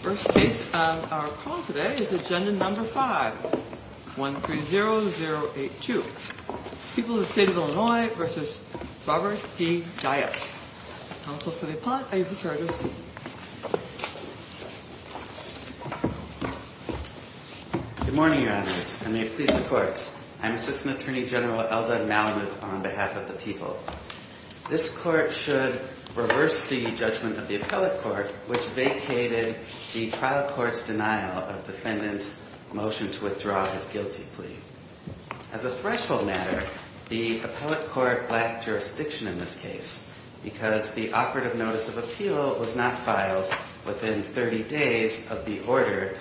First case of our call today is Agenda No. 5, 130082. People of the State of Illinois v. Robert D. Dyas. Counsel for the Appellant, are you prepared to receive? Good morning, Your Honors. I may please the courts. I am Assistant Attorney General Eldon Malamud on behalf of the people. This court should reverse the judgment of the Appellate Court which vacated the trial court's denial of defendant's motion to withdraw his guilty plea. As a threshold matter, the Appellate Court lacked jurisdiction in this case because the operative notice of appeal was not filed within 30 days of the order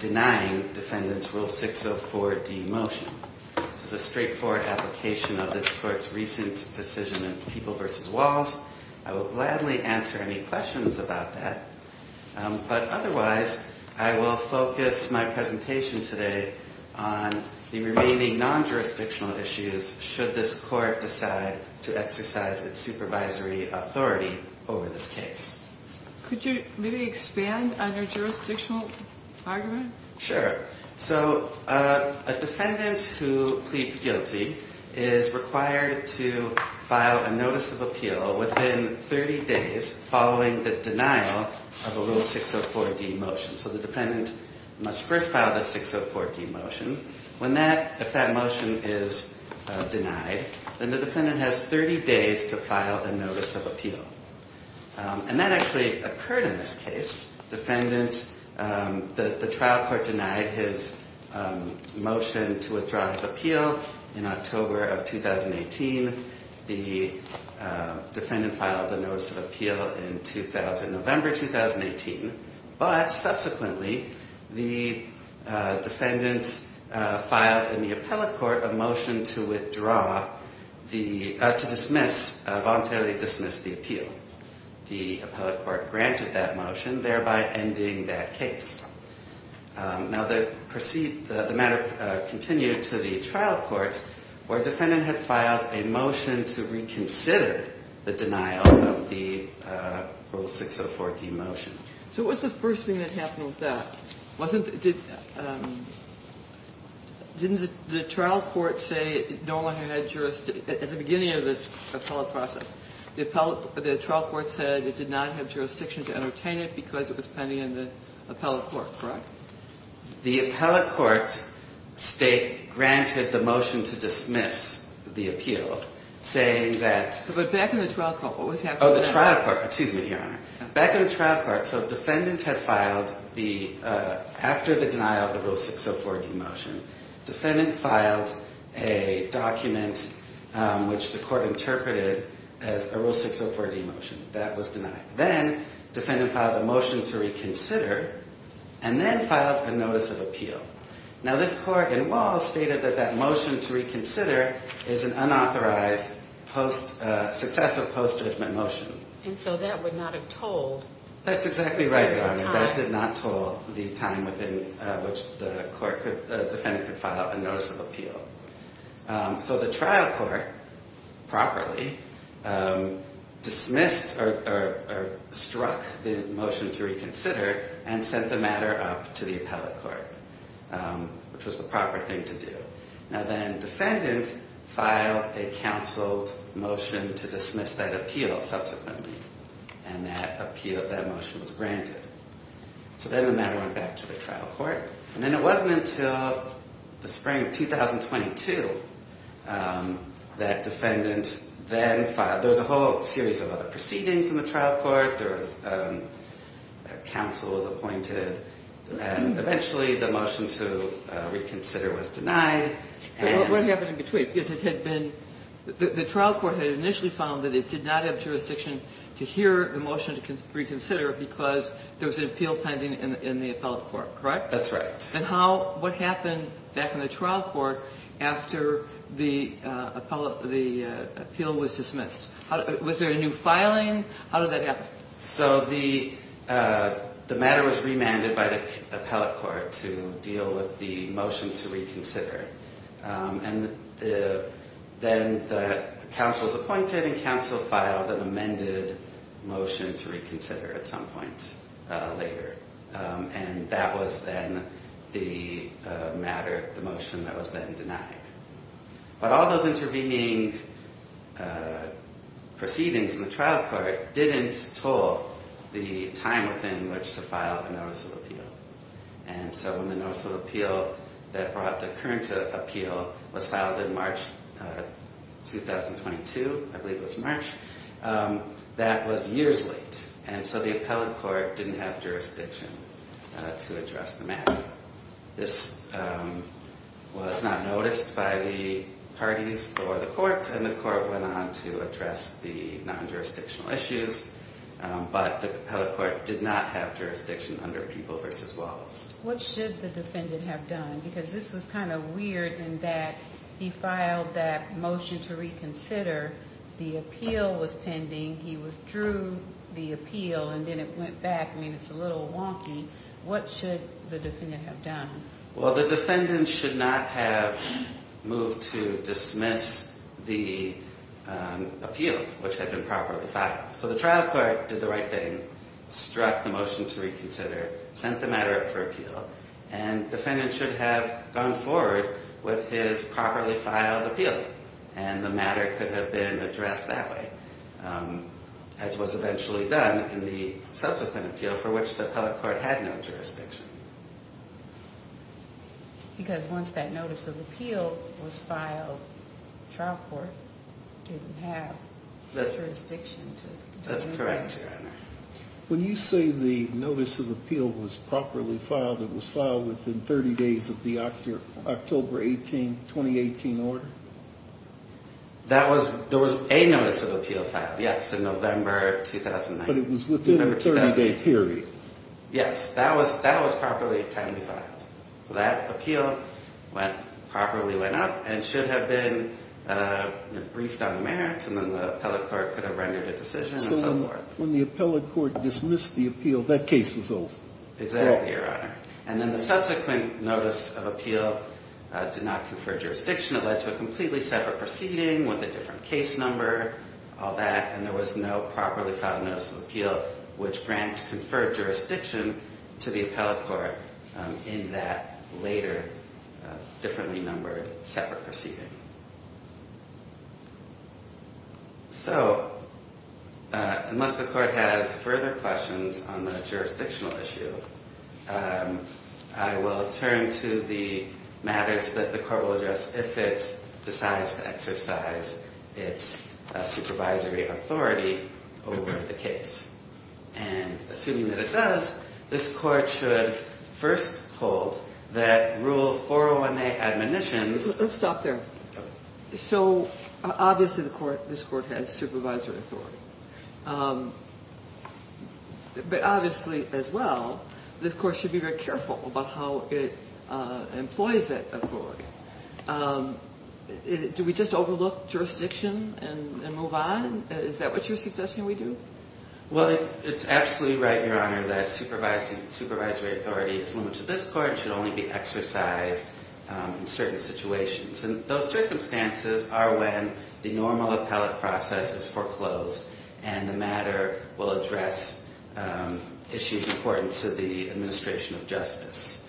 denying defendant's Rule 604D motion. This is a straightforward application of this court's recent decision in People v. Walls. I will gladly answer any questions about that. But otherwise, I will focus my presentation today on the remaining non-jurisdictional issues should this court decide to exercise its supervisory authority over this case. Could you maybe expand on your jurisdictional argument? Sure. So a defendant who pleads guilty is required to file a notice of appeal within 30 days following the denial of a Rule 604D motion. So the defendant must first file the 604D motion. If that motion is denied, then the defendant has 30 days to file a notice of appeal. And that actually occurred in this case. The trial court denied his motion to withdraw his appeal in October of 2018. The defendant filed the notice of appeal in November 2018. But subsequently, the defendant filed in the Appellate Court a motion to withdraw, to dismiss, voluntarily dismiss the appeal. The Appellate Court granted that motion, thereby ending that case. Now the matter continued to the trial court where the defendant had filed a motion to reconsider the denial of the Rule 604D motion. So what was the first thing that happened with that? Didn't the trial court say no one had jurisdiction at the beginning of this appellate process? The trial court said it did not have jurisdiction to entertain it because it was pending in the Appellate Court, correct? The Appellate Court granted the motion to dismiss the appeal, saying that... But back in the trial court, what was happening? Oh, the trial court. Excuse me, Your Honor. Back in the trial court, so the defendant had filed, after the denial of the Rule 604D motion, the defendant filed a document which the court interpreted as a Rule 604D motion. That was denied. Then, the defendant filed a motion to reconsider, and then filed a notice of appeal. Now this court in Walls stated that that motion to reconsider is an unauthorized successive post-judgment motion. And so that would not have told... That's exactly right, Your Honor. ...the time. That did not tell the time within which the defendant could file a notice of appeal. So the trial court, properly, dismissed or struck the motion to reconsider and sent the matter up to the Appellate Court, which was the proper thing to do. Now then, defendants filed a counseled motion to dismiss that appeal, subsequently. And that appeal, that motion, was granted. So then the matter went back to the trial court. And then it wasn't until the spring of 2022 that defendants then filed... There was a whole series of other proceedings in the trial court. There was counsels appointed, and eventually the motion to reconsider was denied. What happened in between? Because it had been... The trial court had initially found that it did not have jurisdiction to hear the motion to reconsider because there was an appeal pending in the Appellate Court, correct? That's right. And what happened back in the trial court after the appeal was dismissed? Was there a new filing? How did that happen? So the matter was remanded by the Appellate Court to deal with the motion to reconsider. And then the counsels appointed and counsel filed an amended motion to reconsider at some point later. And that was then the matter, the motion that was then denied. But all those intervening proceedings in the trial court didn't toll the time within which to file a Notice of Appeal. And so when the Notice of Appeal that brought the current appeal was filed in March 2022, I believe it was March, that was years late. And so the Appellate Court didn't have jurisdiction to address the matter. This was not noticed by the parties or the court, and the court went on to address the non-jurisdictional issues. But the Appellate Court did not have jurisdiction under People v. Wallace. What should the defendant have done? Because this was kind of weird in that he filed that motion to reconsider, the appeal was pending, he withdrew the appeal, and then it went back. I mean, it's a little wonky. What should the defendant have done? Well, the defendant should not have moved to dismiss the appeal, which had been properly filed. So the trial court did the right thing, struck the motion to reconsider, sent the matter up for appeal, and defendant should have gone forward with his properly filed appeal, and the matter could have been addressed that way, as was eventually done in the subsequent appeal, for which the Appellate Court had no jurisdiction. Because once that Notice of Appeal was filed, the trial court didn't have jurisdiction to do anything. That's correct, Your Honor. When you say the Notice of Appeal was properly filed, it was filed within 30 days of the October 2018 order? There was a Notice of Appeal filed, yes, in November 2009. But it was within a 30-day period. Yes, that was properly and timely filed. So that appeal properly went up and should have been briefed on the merits, and then the Appellate Court could have rendered a decision and so forth. When the Appellate Court dismissed the appeal, that case was over. Exactly, Your Honor. And then the subsequent Notice of Appeal did not confer jurisdiction. It led to a completely separate proceeding with a different case number, all that, and there was no properly filed Notice of Appeal, which grants conferred jurisdiction to the Appellate Court in that later, differently numbered, separate proceeding. So, unless the Court has further questions on the jurisdictional issue, I will turn to the matters that the Court will address if it decides to exercise its supervisory authority over the case. And assuming that it does, this Court should first hold that Rule 401A admonitions Let's stop there. So, obviously this Court has supervisory authority. But obviously, as well, this Court should be very careful about how it employs that authority. Do we just overlook jurisdiction and move on? Is that what you're suggesting we do? Well, it's absolutely right, Your Honor, that supervisory authority is limited to this Court and should only be exercised in certain situations. And those circumstances are when the normal appellate process is foreclosed and the matter will address issues important to the administration of justice.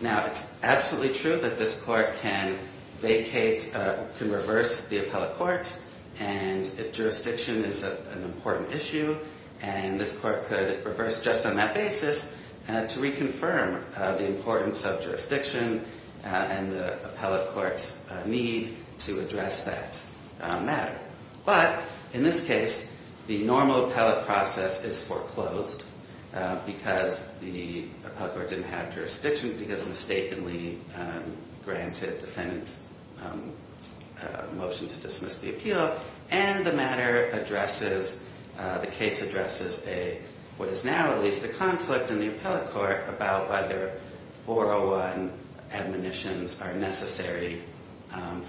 Now, it's absolutely true that this Court can vacate, can reverse the Appellate Court, and if jurisdiction is an important issue, and this Court could reverse just on that basis to reconfirm the importance of jurisdiction and the Appellate Court's need to address that matter. But, in this case, the normal appellate process is foreclosed because the Appellate Court didn't have jurisdiction because it mistakenly granted defendants' motion to dismiss the appeal, and the case addresses what is now at least a conflict in the Appellate Court about whether 401 admonitions are necessary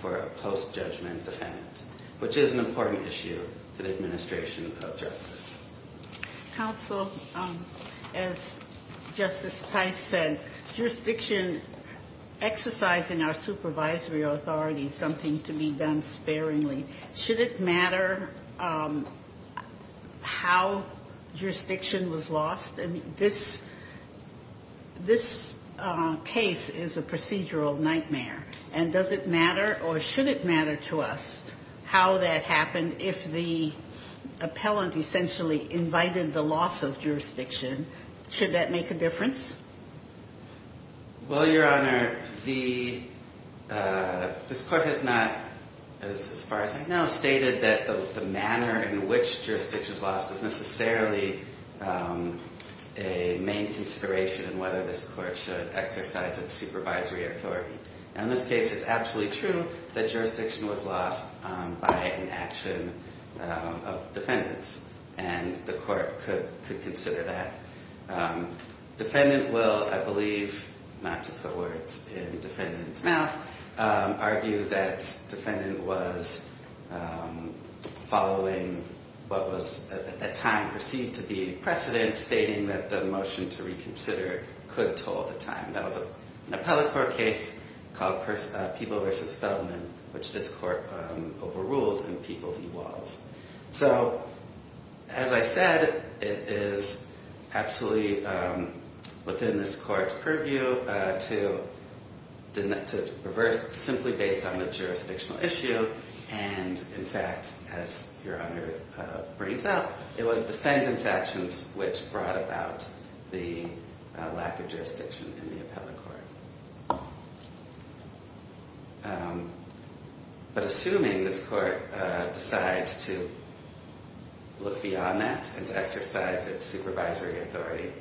for a post-judgment defendant, which is an important issue to the administration of justice. Counsel, as Justice Tice said, jurisdiction exercising our supervisory authority is something to be done sparingly. Should it matter how jurisdiction was lost? This case is a procedural nightmare, and does it matter or should it matter to us how that happened if the appellant essentially invited the loss of jurisdiction? Should that make a difference? Well, Your Honor, this Court has not, as far as I know, stated that the manner in which jurisdiction was lost is necessarily a main consideration in whether this Court should exercise its supervisory authority. In this case, it's absolutely true that jurisdiction was lost by an action of defendants, and the Court could consider that. Defendant will, I believe, not to put words in defendant's mouth, argue that defendant was following what was at that time perceived to be precedent, stating that the motion to reconsider could toll the time. That was an Appellate Court case called People v. Feldman, which this Court overruled in People v. Walls. So, as I said, it is absolutely within this Court's purview to reverse simply based on the jurisdictional issue. And, in fact, as Your Honor brings out, it was defendant's actions which brought about the lack of jurisdiction in the Appellate Court. But assuming this Court decides to look beyond that and to exercise its supervisory authority,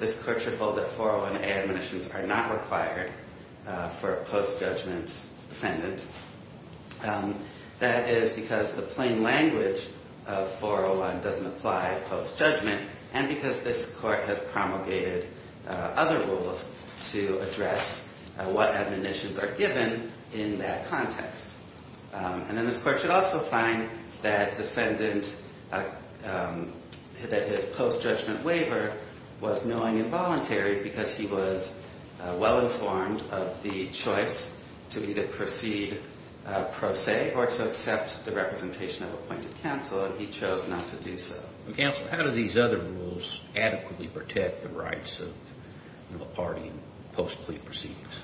this Court should hold that 401A admonitions are not required for post-judgment defendants. That is because the plain language of 401 doesn't apply post-judgment, and because this Court has promulgated other rules to address what admonitions are given in that context. And then this Court should also find that defendant, that his post-judgment waiver was knowing and voluntary because he was well-informed of the choice to either proceed pro se or to accept the representation of appointed counsel, and he chose not to do so. Counsel, how do these other rules adequately protect the rights of a party in post-plea proceedings?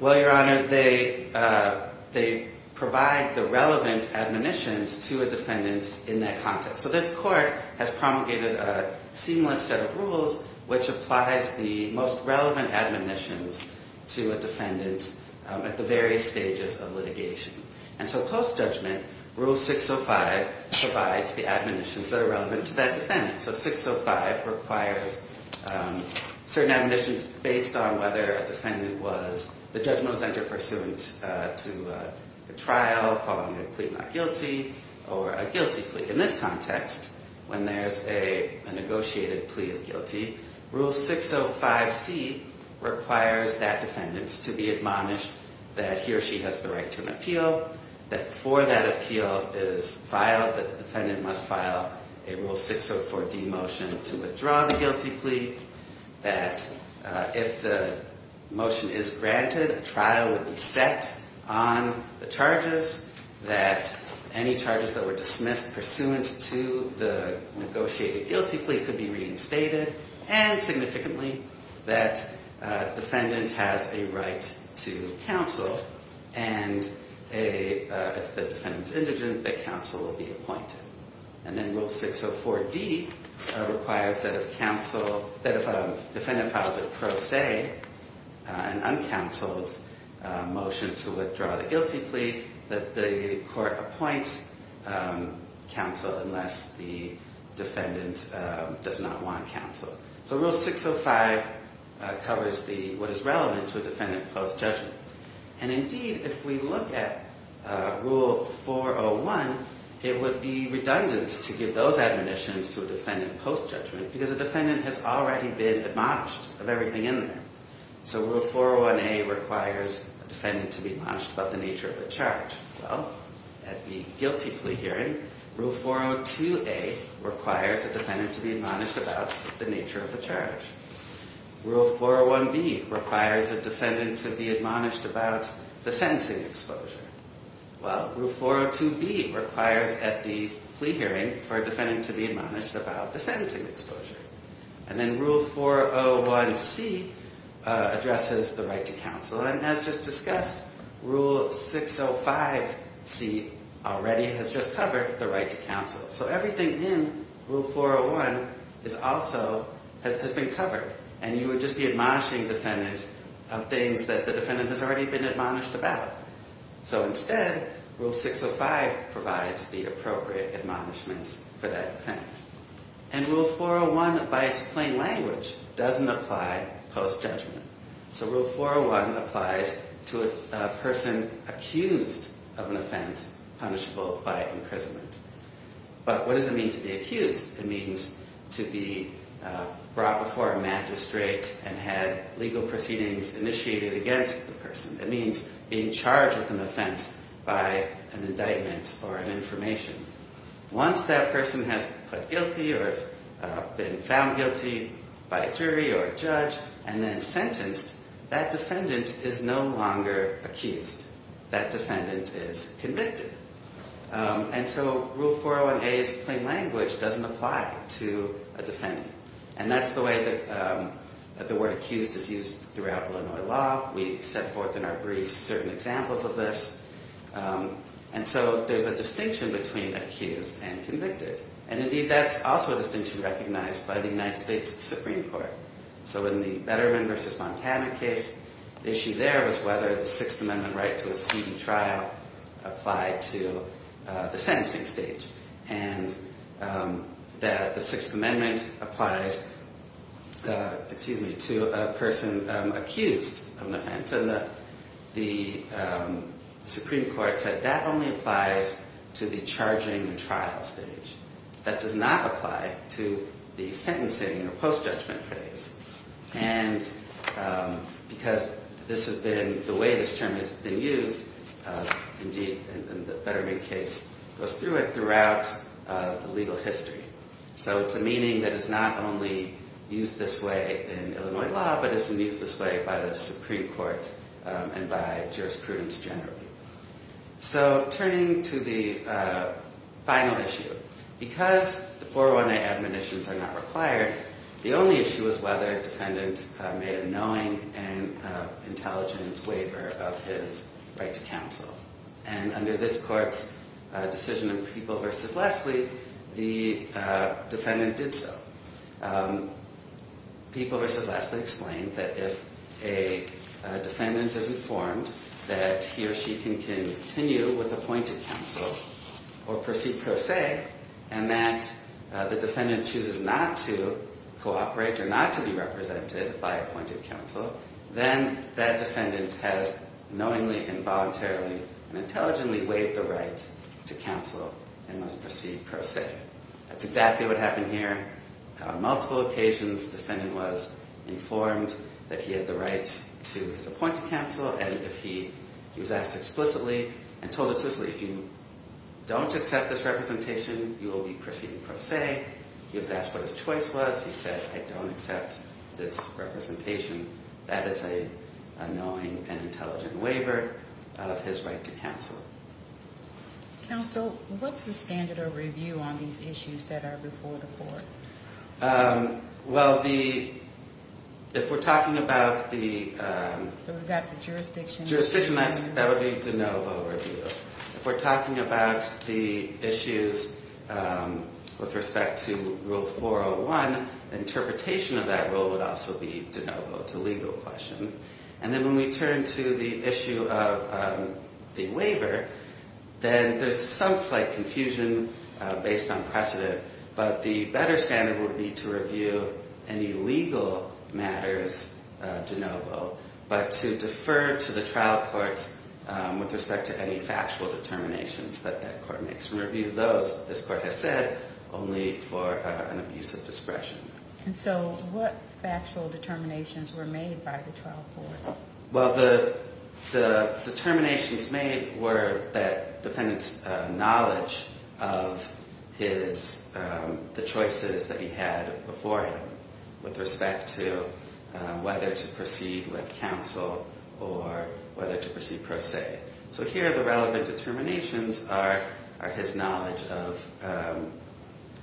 Well, Your Honor, they provide the relevant admonitions to a defendant in that context. So this Court has promulgated a seamless set of rules which applies the most relevant admonitions to a defendant at the various stages of litigation. And so post-judgment, Rule 605 provides the admonitions that are relevant to that defendant. So 605 requires certain admonitions based on whether a defendant was the judgment was entered pursuant to a trial following a plea not guilty or a guilty plea. In this context, when there's a negotiated plea of guilty, Rule 605C requires that defendant to be admonished that he or she has the right to an appeal, that before that appeal is filed that the defendant must file a Rule 604D motion to withdraw the guilty plea, that if the motion is granted, a trial would be set on the charges, that any charges that were dismissed pursuant to the negotiated guilty plea could be reinstated, and significantly, that defendant has a right to counsel, and if the defendant is indigent, that counsel will be appointed. And then Rule 604D requires that if counsel, that if a defendant files a pro se, an uncounseled motion to withdraw the guilty plea, that the court appoints counsel unless the defendant does not want counsel. So Rule 605 covers what is relevant to a defendant post-judgment. And indeed, if we look at Rule 401, it would be redundant to give those admonitions to a defendant post-judgment because a defendant has already been admonished of everything in there. So Rule 401A requires a defendant to be admonished about the nature of the charge. Well, at the guilty plea hearing, Rule 402A requires a defendant to be admonished about the nature of the charge. Rule 401B requires a defendant to be admonished about the sentencing exposure. Well, Rule 402B requires at the plea hearing for a defendant to be admonished about the sentencing exposure. And then Rule 401C addresses the right to counsel. And as just discussed, Rule 605C already has just covered the right to counsel. So everything in Rule 401 has also been covered. And you would just be admonishing defendants of things that the defendant has already been admonished about. So instead, Rule 605 provides the appropriate admonishments for that defendant. And Rule 401, by its plain language, doesn't apply post-judgment. So Rule 401 applies to a person accused of an offense punishable by imprisonment. But what does it mean to be accused? It means to be brought before a magistrate and had legal proceedings initiated against the person. It means being charged with an offense by an indictment or an information. Once that person has been found guilty by a jury or a judge and then sentenced, that defendant is no longer accused. That defendant is convicted. And so Rule 401A's plain language doesn't apply to a defendant. And that's the way that the word accused is used throughout Illinois law. We set forth in our briefs certain examples of this. And so there's a distinction between accused and convicted. And indeed, that's also a distinction recognized by the United States Supreme Court. So in the Betterman v. Montana case, the issue there was whether the Sixth Amendment right to a speeding trial applied to the sentencing stage. And the Sixth Amendment applies to a person accused of an offense. And so the Supreme Court said that only applies to the charging and trial stage. That does not apply to the sentencing or post-judgment phase. And because this has been the way this term has been used, indeed, the Betterman case goes through it throughout the legal history. So it's a meaning that is not only used this way in Illinois law, but is used this way by the Supreme Court and by jurisprudence generally. So turning to the final issue, because the 401A admonitions are not required, the only issue is whether a defendant made a knowing and intelligent waiver of his right to counsel. And under this court's decision in People v. Leslie, the defendant did so. People v. Leslie explained that if a defendant is informed that he or she can continue with appointed counsel or proceed pro se, and that the defendant chooses not to cooperate or not to be represented by appointed counsel, then that defendant has knowingly, involuntarily, and intelligently waived the right to counsel and must proceed pro se. That's exactly what happened here. On multiple occasions, the defendant was informed that he had the right to his appointed counsel. And he was asked explicitly and told explicitly, if you don't accept this representation, you will be proceeding pro se. He was asked what his choice was. He said, I don't accept this representation. That is a knowing and intelligent waiver of his right to counsel. Counsel, what's the standard of review on these issues that are reported for? Well, if we're talking about the jurisdiction, that would be de novo review. If we're talking about the issues with respect to Rule 401, interpretation of that rule would also be de novo. It's a legal question. And then when we turn to the issue of the waiver, then there's some slight confusion based on precedent. But the better standard would be to review any legal matters de novo, but to defer to the trial courts with respect to any factual determinations that that court makes. Review those, this court has said, only for an abuse of discretion. And so what factual determinations were made by the trial court? Well, the determinations made were that defendant's knowledge of the choices that he had before him, with respect to whether to proceed with counsel or whether to proceed pro se. So here the relevant determinations are his knowledge of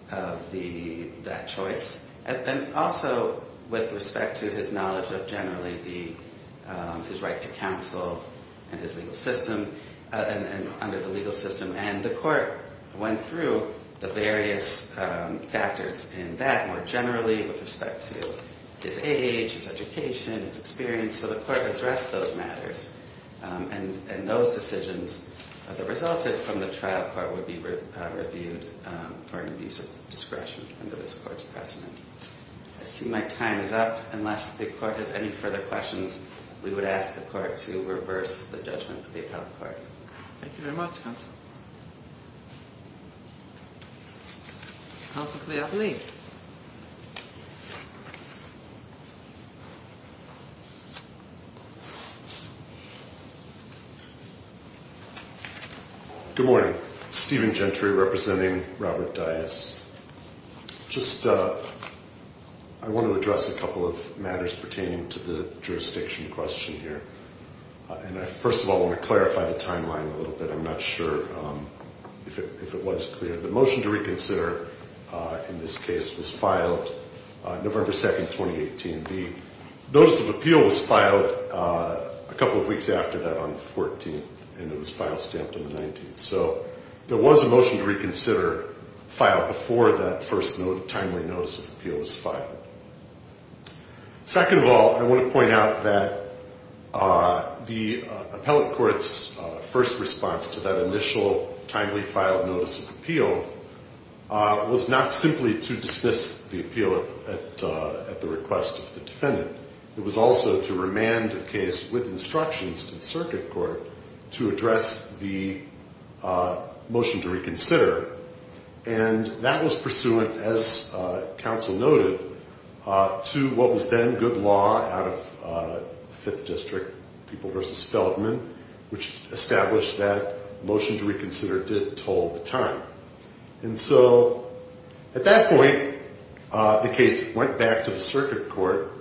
that choice. And also with respect to his knowledge of generally his right to counsel under the legal system. And the court went through the various factors in that more generally with respect to his age, his education, his experience. So the court addressed those matters. And those decisions that resulted from the trial court would be reviewed for an abuse of discretion under this court's precedent. I see my time is up. Unless the court has any further questions, we would ask the court to reverse the judgment of the appellate court. Thank you very much, counsel. Counsel Kliath-Lee. Good morning. Stephen Gentry representing Robert Dias. Just I want to address a couple of matters pertaining to the jurisdiction question here. And I, first of all, want to clarify the timeline a little bit. I'm not sure if it was clear. The motion to reconsider in this case was filed November 2nd, 2018. The notice of appeal was filed a couple of weeks after that on the 14th, and it was file stamped on the 19th. So there was a motion to reconsider filed before that first timely notice of appeal was filed. Second of all, I want to point out that the appellate court's first response to that initial timely filed notice of appeal was not simply to dismiss the appeal at the request of the defendant. It was also to remand the case with instructions to the circuit court to address the motion to reconsider. And that was pursuant, as counsel noted, to what was then good law out of Fifth District, People v. Feldman, which established that motion to reconsider did toll the time. And so at that point, the case went back to the circuit court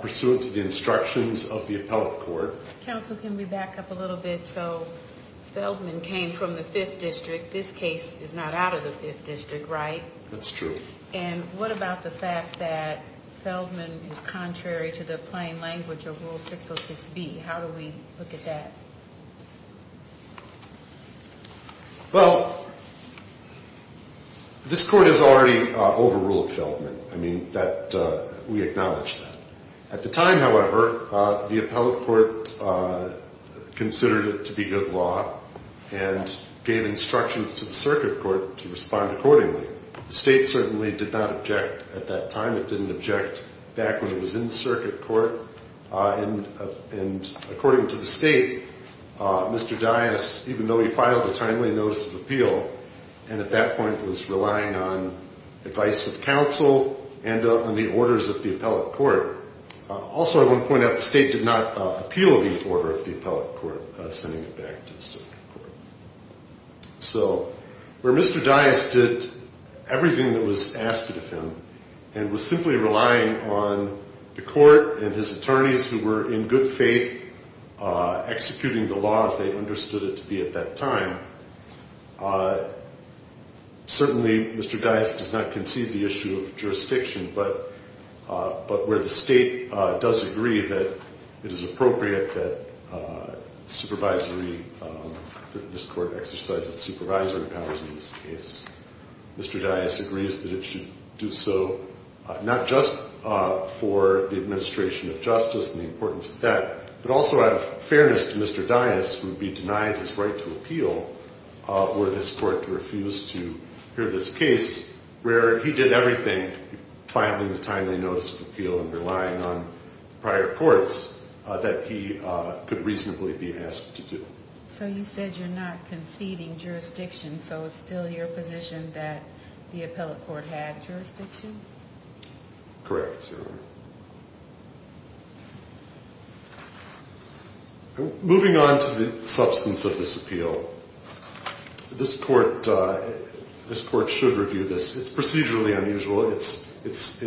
pursuant to the instructions of the appellate court. Counsel, can we back up a little bit? So Feldman came from the Fifth District. This case is not out of the Fifth District, right? That's true. And what about the fact that Feldman is contrary to the plain language of Rule 606B? How do we look at that? Well, this court has already overruled Feldman. I mean, we acknowledge that. At the time, however, the appellate court considered it to be good law and gave instructions to the circuit court to respond accordingly. The state certainly did not object at that time. It didn't object back when it was in the circuit court. And according to the state, Mr. Dias, even though he filed a timely notice of appeal and at that point was relying on advice of counsel and on the orders of the appellate court. Also, I want to point out the state did not appeal the order of the appellate court sending it back to the circuit court. So where Mr. Dias did everything that was asked of him and was simply relying on the court and his attorneys who were in good faith executing the laws they understood it to be at that time. Certainly, Mr. Dias does not concede the issue of jurisdiction. But where the state does agree that it is appropriate that supervisory, that this court exercise its supervisory powers in this case, Mr. Dias agrees that it should do so not just for the administration of justice and the importance of that, but also out of fairness to Mr. Dias would be denied his right to appeal were this court to refuse to hear this case where he did everything filing the timely notice of appeal and relying on prior courts that he could reasonably be asked to do. So you said you're not conceding jurisdiction. So it's still your position that the appellate court had jurisdiction? Correct. Moving on to the substance of this appeal, this court should review this. It's procedurally unusual. It's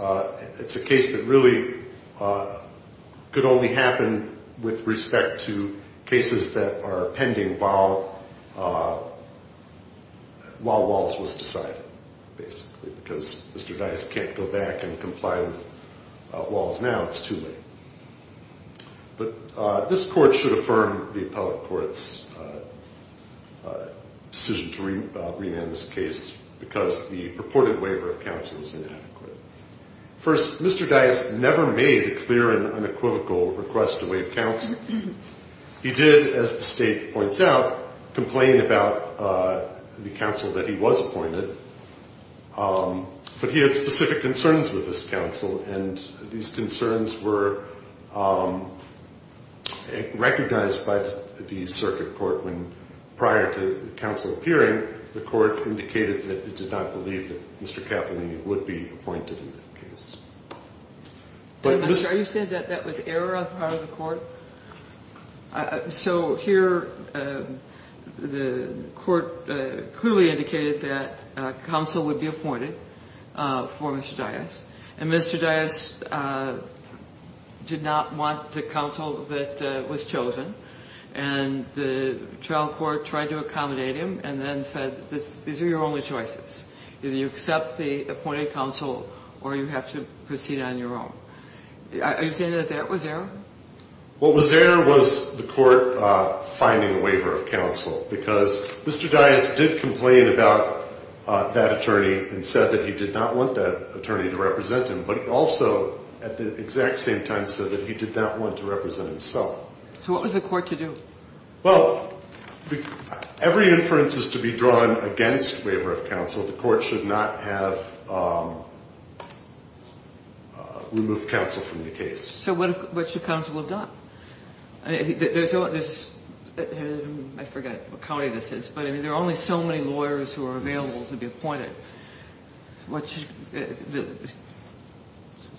a case that really could only happen with respect to cases that are pending while Walls was decided, basically, because Mr. Dias can't go back and comply with Walls now. It's too late. But this court should affirm the appellate court's decision to remand this case because the purported waiver of counsel is inadequate. First, Mr. Dias never made a clear and unequivocal request to waive counsel. He did, as the state points out, complain about the counsel that he was appointed. But he had specific concerns with this counsel, and these concerns were recognized by the circuit court when prior to the counsel appearing, the court indicated that it did not believe that Mr. Cappellini would be appointed in that case. Are you saying that that was error on the part of the court? So here, the court clearly indicated that counsel would be appointed for Mr. Dias, and Mr. Dias did not want the counsel that was chosen. And the trial court tried to accommodate him and then said, these are your only choices. Either you accept the appointed counsel or you have to proceed on your own. Are you saying that that was error? What was error was the court finding a waiver of counsel because Mr. Dias did complain about that attorney and said that he did not want that attorney to represent him. But he also, at the exact same time, said that he did not want to represent himself. So what was the court to do? Well, every inference is to be drawn against waiver of counsel. The court should not have removed counsel from the case. So what should counsel have done? I forget what county this is, but there are only so many lawyers who are available to be appointed. The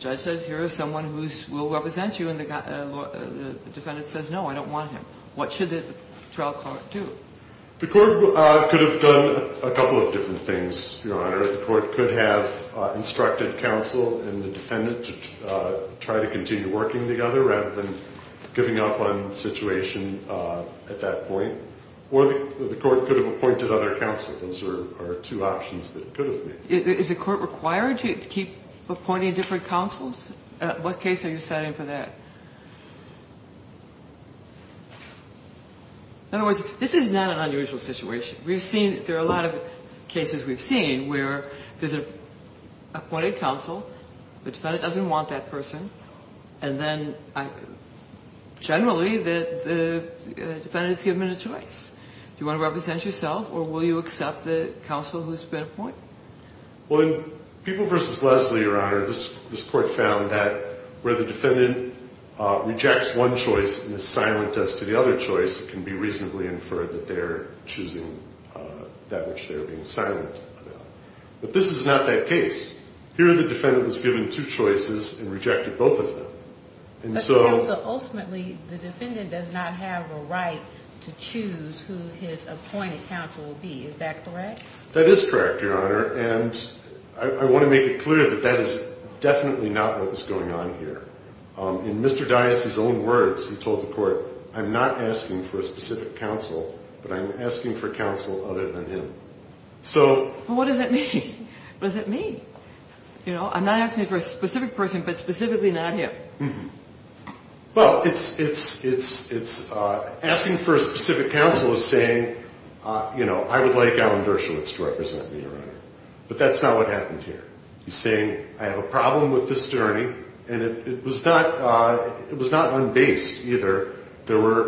judge said, here is someone who will represent you. And the defendant says, no, I don't want him. What should the trial court do? The court could have done a couple of different things, Your Honor. The court could have instructed counsel and the defendant to try to continue working together rather than giving up on the situation at that point. Or the court could have appointed other counsel. Those are two options that could have been. Is the court required to keep appointing different counsels? What case are you citing for that? In other words, this is not an unusual situation. We've seen that there are a lot of cases we've seen where there's an appointed counsel, the defendant doesn't want that person, and then generally the defendant is given a choice. Do you want to represent yourself, or will you accept the counsel who's been appointed? Well, in People v. Leslie, Your Honor, this court found that where the defendant rejects one choice and is silent as to the other choice, it can be reasonably inferred that they're choosing that which they're being silent about. But this is not that case. Here the defendant was given two choices and rejected both of them. But, Your Honor, so ultimately the defendant does not have a right to choose who his appointed counsel will be. Is that correct? That is correct, Your Honor. And I want to make it clear that that is definitely not what is going on here. In Mr. Dias's own words, he told the court, I'm not asking for a specific counsel, but I'm asking for counsel other than him. So what does that mean? What does that mean? You know, I'm not asking for a specific person, but specifically not him. Well, it's asking for a specific counsel is saying, you know, I would like Alan Dershowitz to represent me, Your Honor. But that's not what happened here. He's saying, I have a problem with this journey, and it was not unbased either. There were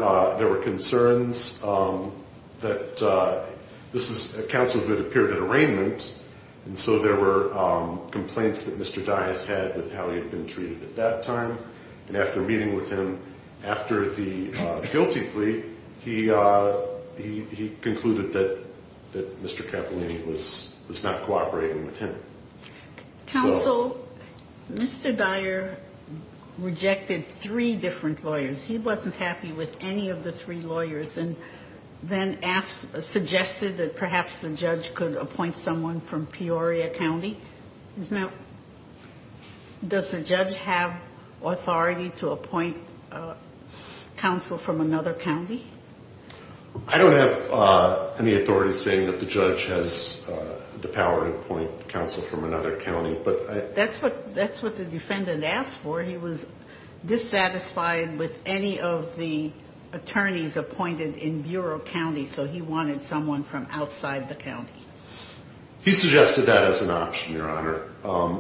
concerns that this is a counsel who had appeared at arraignment, and so there were complaints that Mr. Dias had with how he had been treated at that time. And after meeting with him after the guilty plea, he concluded that Mr. Capellini was not cooperating with him. Counsel, Mr. Dyer rejected three different lawyers. He wasn't happy with any of the three lawyers and then suggested that perhaps the judge could appoint someone from Peoria County. Does the judge have authority to appoint counsel from another county? I don't have any authority saying that the judge has the power to appoint counsel from another county. But that's what the defendant asked for. He was dissatisfied with any of the attorneys appointed in Bureau County, so he wanted someone from outside the county. He suggested that as an option, Your Honor.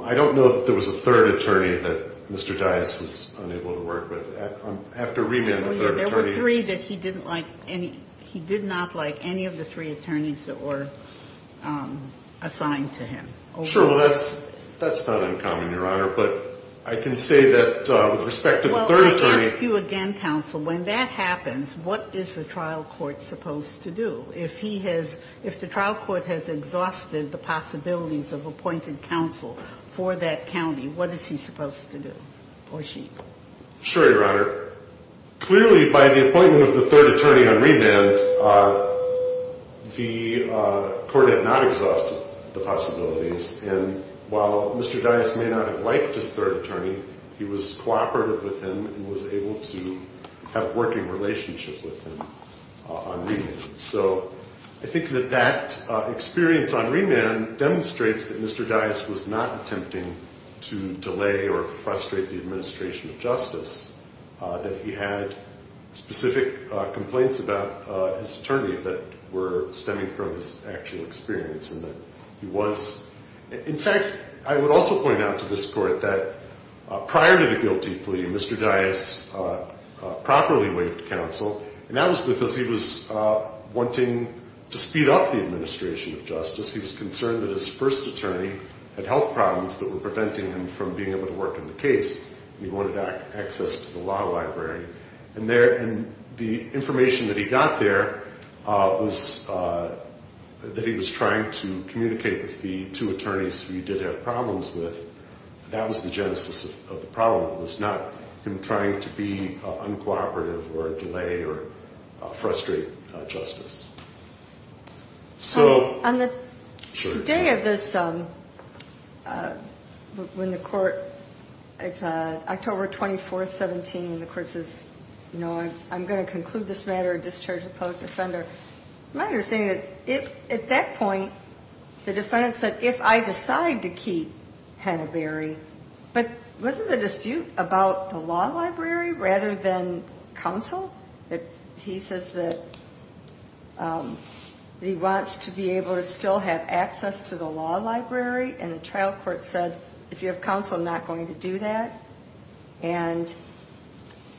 I don't know that there was a third attorney that Mr. Dias was unable to work with. After remand, a third attorney. Oh, yeah. There were three that he didn't like. He did not like any of the three attorneys that were assigned to him. Sure. Well, that's not uncommon, Your Honor. But I can say that with respect to the third attorney. Well, I ask you again, counsel, when that happens, what is the trial court supposed to do? If the trial court has exhausted the possibilities of appointed counsel for that county, what is he supposed to do, or she? Sure, Your Honor. Clearly, by the appointment of the third attorney on remand, the court had not exhausted the possibilities. And while Mr. Dias may not have liked his third attorney, he was cooperative with him and was able to have working relationships with him on remand. So I think that that experience on remand demonstrates that Mr. Dias was not attempting to delay or frustrate the administration of justice, that he had specific complaints about his attorney that were stemming from his actual experience and that he was. In fact, I would also point out to this court that prior to the guilty plea, Mr. Dias properly waived counsel, and that was because he was wanting to speed up the administration of justice. He was concerned that his first attorney had health problems that were preventing him from being able to work on the case, and he wanted access to the law library. And the information that he got there was that he was trying to communicate with the two attorneys who he did have problems with. That was the genesis of the problem. It was not him trying to be uncooperative or delay or frustrate justice. So on the day of this, when the court, it's October 24th, 17, and the court says, you know, I'm going to conclude this matter or discharge a public defender, the matter is saying that at that point the defendant said, if I decide to keep Hannaberry, but wasn't the dispute about the law library rather than counsel? He says that he wants to be able to still have access to the law library, and the trial court said, if you have counsel, I'm not going to do that. And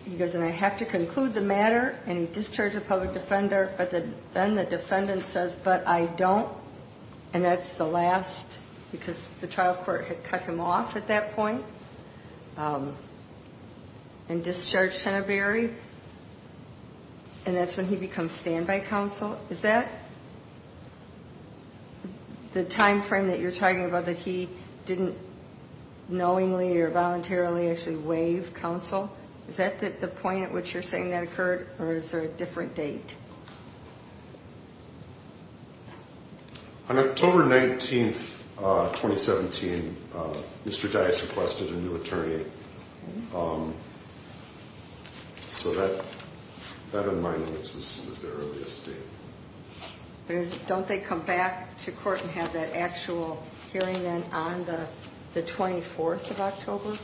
he goes, and I have to conclude the matter, and he discharged a public defender, but then the defendant says, but I don't, and that's the last, because the trial court had cut him off at that point and discharged Hannaberry, and that's when he becomes standby counsel. Is that the time frame that you're talking about, that he didn't knowingly or voluntarily actually waive counsel? Is that the point at which you're saying that occurred, or is there a different date? On October 19th, 2017, Mr. Dice requested a new attorney. So that, in my instance, is the earliest date. Don't they come back to court and have that actual hearing then on the 24th of October?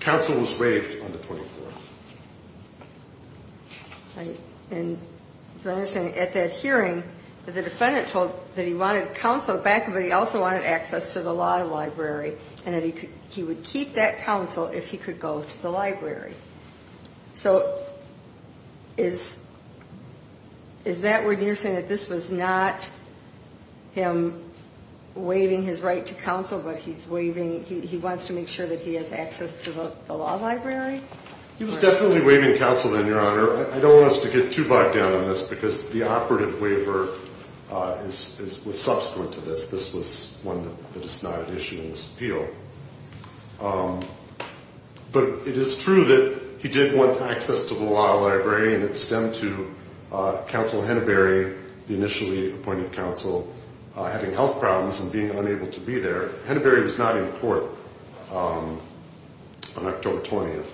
Counsel was waived on the 24th. And so I understand at that hearing the defendant told that he wanted counsel back, but he also wanted access to the law library, and that he would keep that counsel if he could go to the library. So is that when you're saying that this was not him waiving his right to counsel, but he wants to make sure that he has access to the law library? He was definitely waiving counsel then, Your Honor. I don't want us to get too bogged down on this, because the operative waiver was subsequent to this. This was one that is not an issue in this appeal. But it is true that he did want access to the law library, and it stemmed to Counsel Henneberry, the initially appointed counsel, having health problems and being unable to be there. Henneberry was not in court on October 20th,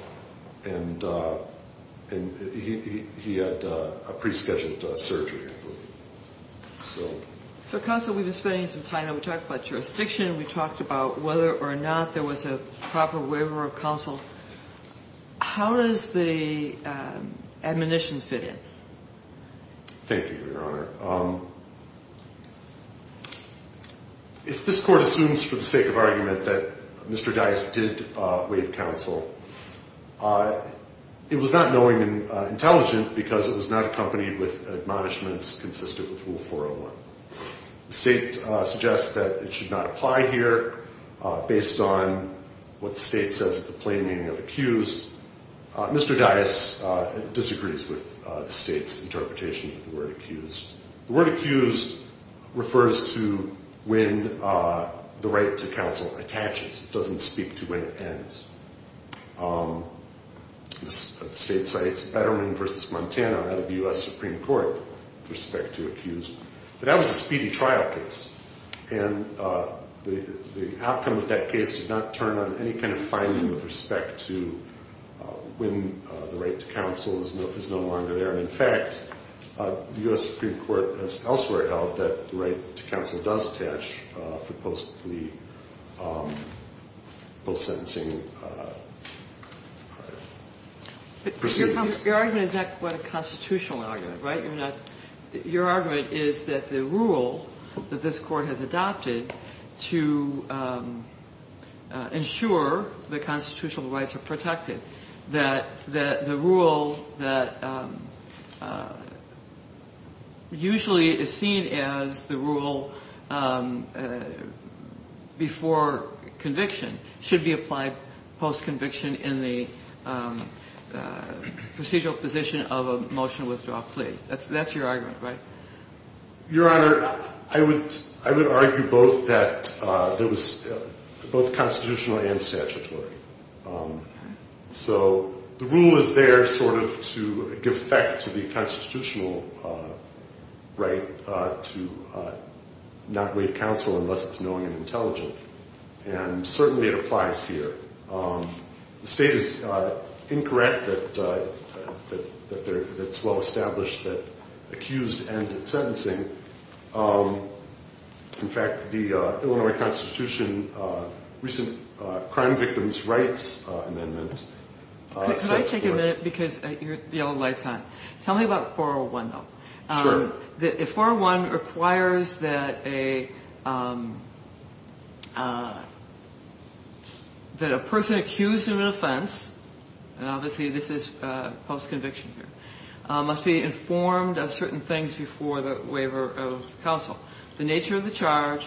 and he had a pre-scheduled surgery. So, Counsel, we've been spending some time, and we talked about jurisdiction, and we talked about whether or not there was a proper waiver of counsel. How does the admonition fit in? Thank you, Your Honor. If this Court assumes for the sake of argument that Mr. Dice did waive counsel, it was not knowing and intelligent because it was not accompanied with admonishments consistent with Rule 401. The State suggests that it should not apply here based on what the State says is the plain meaning of accused. Mr. Dice disagrees with the State's interpretation of the word accused. The word accused refers to when the right to counsel attaches. It doesn't speak to when it ends. The State cites Betterman v. Montana out of the U.S. Supreme Court with respect to accused. But that was a speedy trial case, and the outcome of that case did not turn on any kind of finding with respect to when the right to counsel is no longer there. And, in fact, the U.S. Supreme Court has elsewhere held that the right to counsel does attach for post-plea, post-sentencing proceedings. But your argument is not quite a constitutional argument, right? Your argument is that the rule that this Court has adopted to ensure that constitutional rights are protected, that the rule that usually is seen as the rule before conviction should be applied post-conviction in the procedural position of a motion withdrawal plea. That's your argument, right? Your Honor, I would argue both that it was both constitutional and statutory. So the rule is there sort of to give effect to the constitutional right to not waive counsel unless it's knowing and intelligent. And certainly it applies here. The State is incorrect that it's well-established that accused ends at sentencing. In fact, the Illinois Constitution recent Crime Victims' Rights Amendment sets forth. Could I take a minute because the yellow light's on? Tell me about 401, though. Sure. The 401 requires that a person accused of an offense, and obviously this is post-conviction here, must be informed of certain things before the waiver of counsel, the nature of the charge,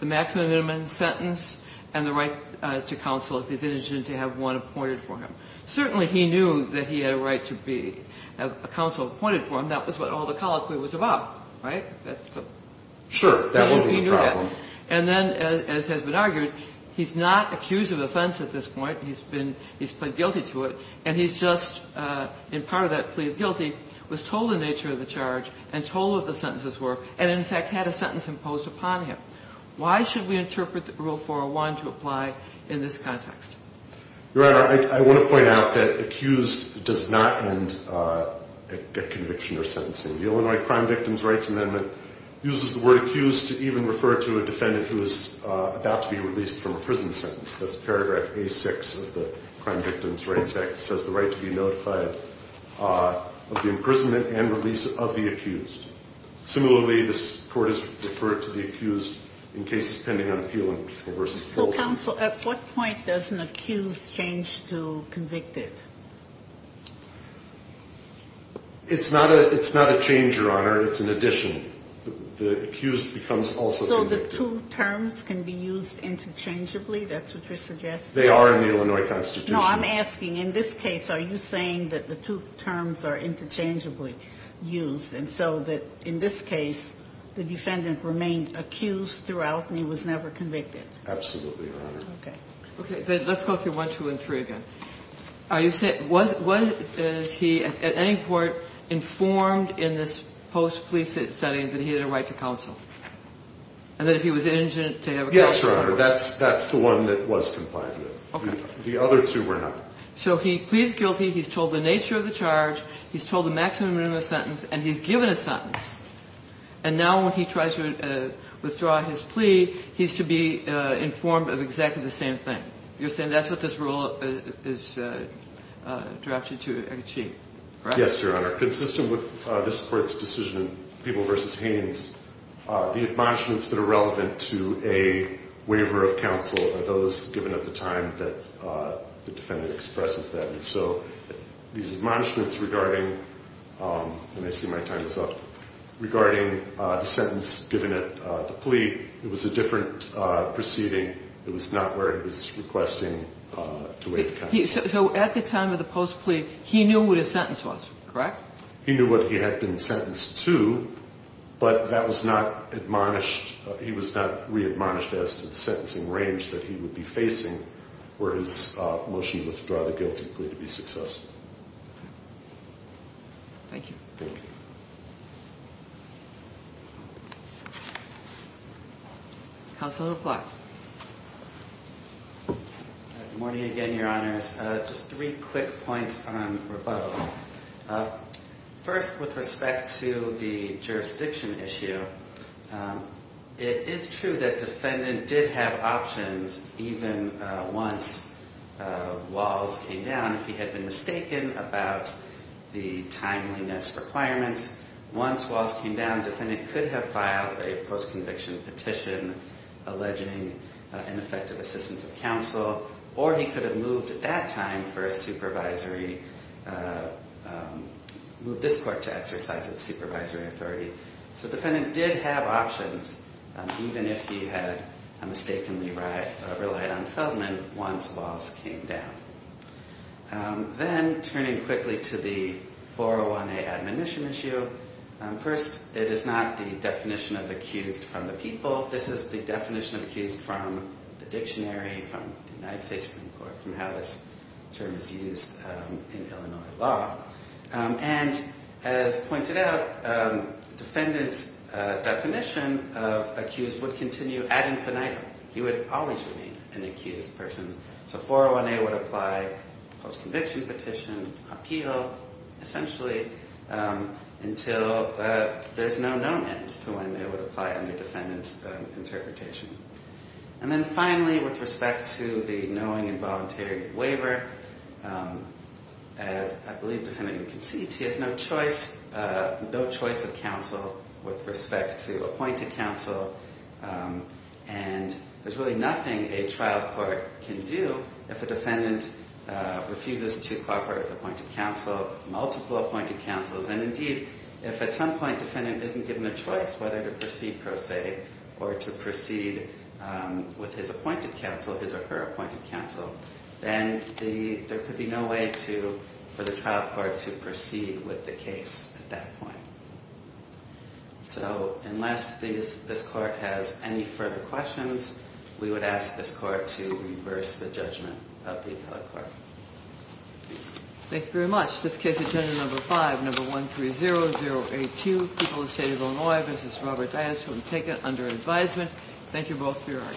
the maximum and minimum sentence, and the right to counsel if he's interested to have one appointed for him. Certainly he knew that he had a right to be a counsel appointed for him. That was what all the colloquy was about, right? Sure. He knew that. And then, as has been argued, he's not accused of offense at this point. He's been he's plead guilty to it. And he's just, in part of that plea of guilty, was told the nature of the charge and told what the sentences were and, in fact, had a sentence imposed upon him. Why should we interpret Rule 401 to apply in this context? Your Honor, I want to point out that accused does not end a conviction or sentencing. The Illinois Crime Victims' Rights Amendment uses the word accused to even refer to a defendant who is about to be released from a prison sentence. That's paragraph A-6 of the Crime Victims' Rights Act. It says the right to be notified of the imprisonment and release of the accused. Similarly, this court has referred to the accused in cases pending on appeal and So, counsel, at what point does an accused change to convicted? It's not a change, Your Honor. It's an addition. The accused becomes also convicted. So the two terms can be used interchangeably? That's what you're suggesting? They are in the Illinois Constitution. No, I'm asking, in this case, are you saying that the two terms are interchangeably used and so that, in this case, the defendant remained accused throughout and he was never convicted? Absolutely, Your Honor. Okay. Let's go through 1, 2, and 3 again. Are you saying, was he at any point informed in this post-police setting that he had a right to counsel? And that if he was indigent, to have a conviction? Yes, Your Honor. That's the one that was complied with. Okay. The other two were not. So he pleads guilty, he's told the nature of the charge, he's told the maximum minimum sentence, and he's given a sentence. And now when he tries to withdraw his plea, he's to be informed of exactly the same thing. You're saying that's what this rule is drafted to achieve, correct? Yes, Your Honor. Consistent with this Court's decision, People v. Haynes, the admonishments that are relevant to a waiver of counsel are those given at the time that the defendant expresses that. And so these admonishments regarding, and I see my time is up, regarding the sentence given at the plea, it was a different proceeding. It was not where he was requesting to waive counsel. So at the time of the post-plea, he knew what his sentence was, correct? He knew what he had been sentenced to, but that was not admonished, he was not readmonished as to the sentencing range that he would be facing where his motion to withdraw the guilty plea to be successful. Thank you. Thank you. Counsel to reply. Good morning again, Your Honors. Just three quick points on rebuttal. First, with respect to the jurisdiction issue, it is true that defendant did have options even once Walls came down. If he had been mistaken about the timeliness requirements, once Walls came down, defendant could have filed a post-conviction petition alleging ineffective assistance of counsel, or he could have moved at that time for a supervisory, moved this Court to exercise its supervisory authority. So defendant did have options even if he had mistakenly relied on Feldman once Walls came down. Then, turning quickly to the 401A admonition issue, first, it is not the definition of accused from the people. This is the definition of accused from the dictionary, from the United States Supreme Court, from how this term is used in Illinois law. And as pointed out, defendant's definition of accused would continue ad infinitum. He would always remain an accused person. So 401A would apply post-conviction petition, appeal, essentially, until there's no known end to when it would apply under defendant's interpretation. And then finally, with respect to the knowing involuntary waiver, as I believe defendant concedes, he has no choice of counsel with respect to appointed counsel. And there's really nothing a trial court can do if a defendant refuses to cooperate with appointed counsel, multiple appointed counsels. And indeed, if at some point defendant isn't given a choice whether to proceed pro se or to proceed with his appointed counsel, his or her appointed counsel, then there could be no way for the trial court to proceed with the case at that point. So unless this court has any further questions, we would ask this court to reverse the judgment of the appellate court. Thank you very much. This case is agenda number five, number 130082, People of the State of Illinois. This is Robert Dias from TACA under advisement. Thank you both for your arguments.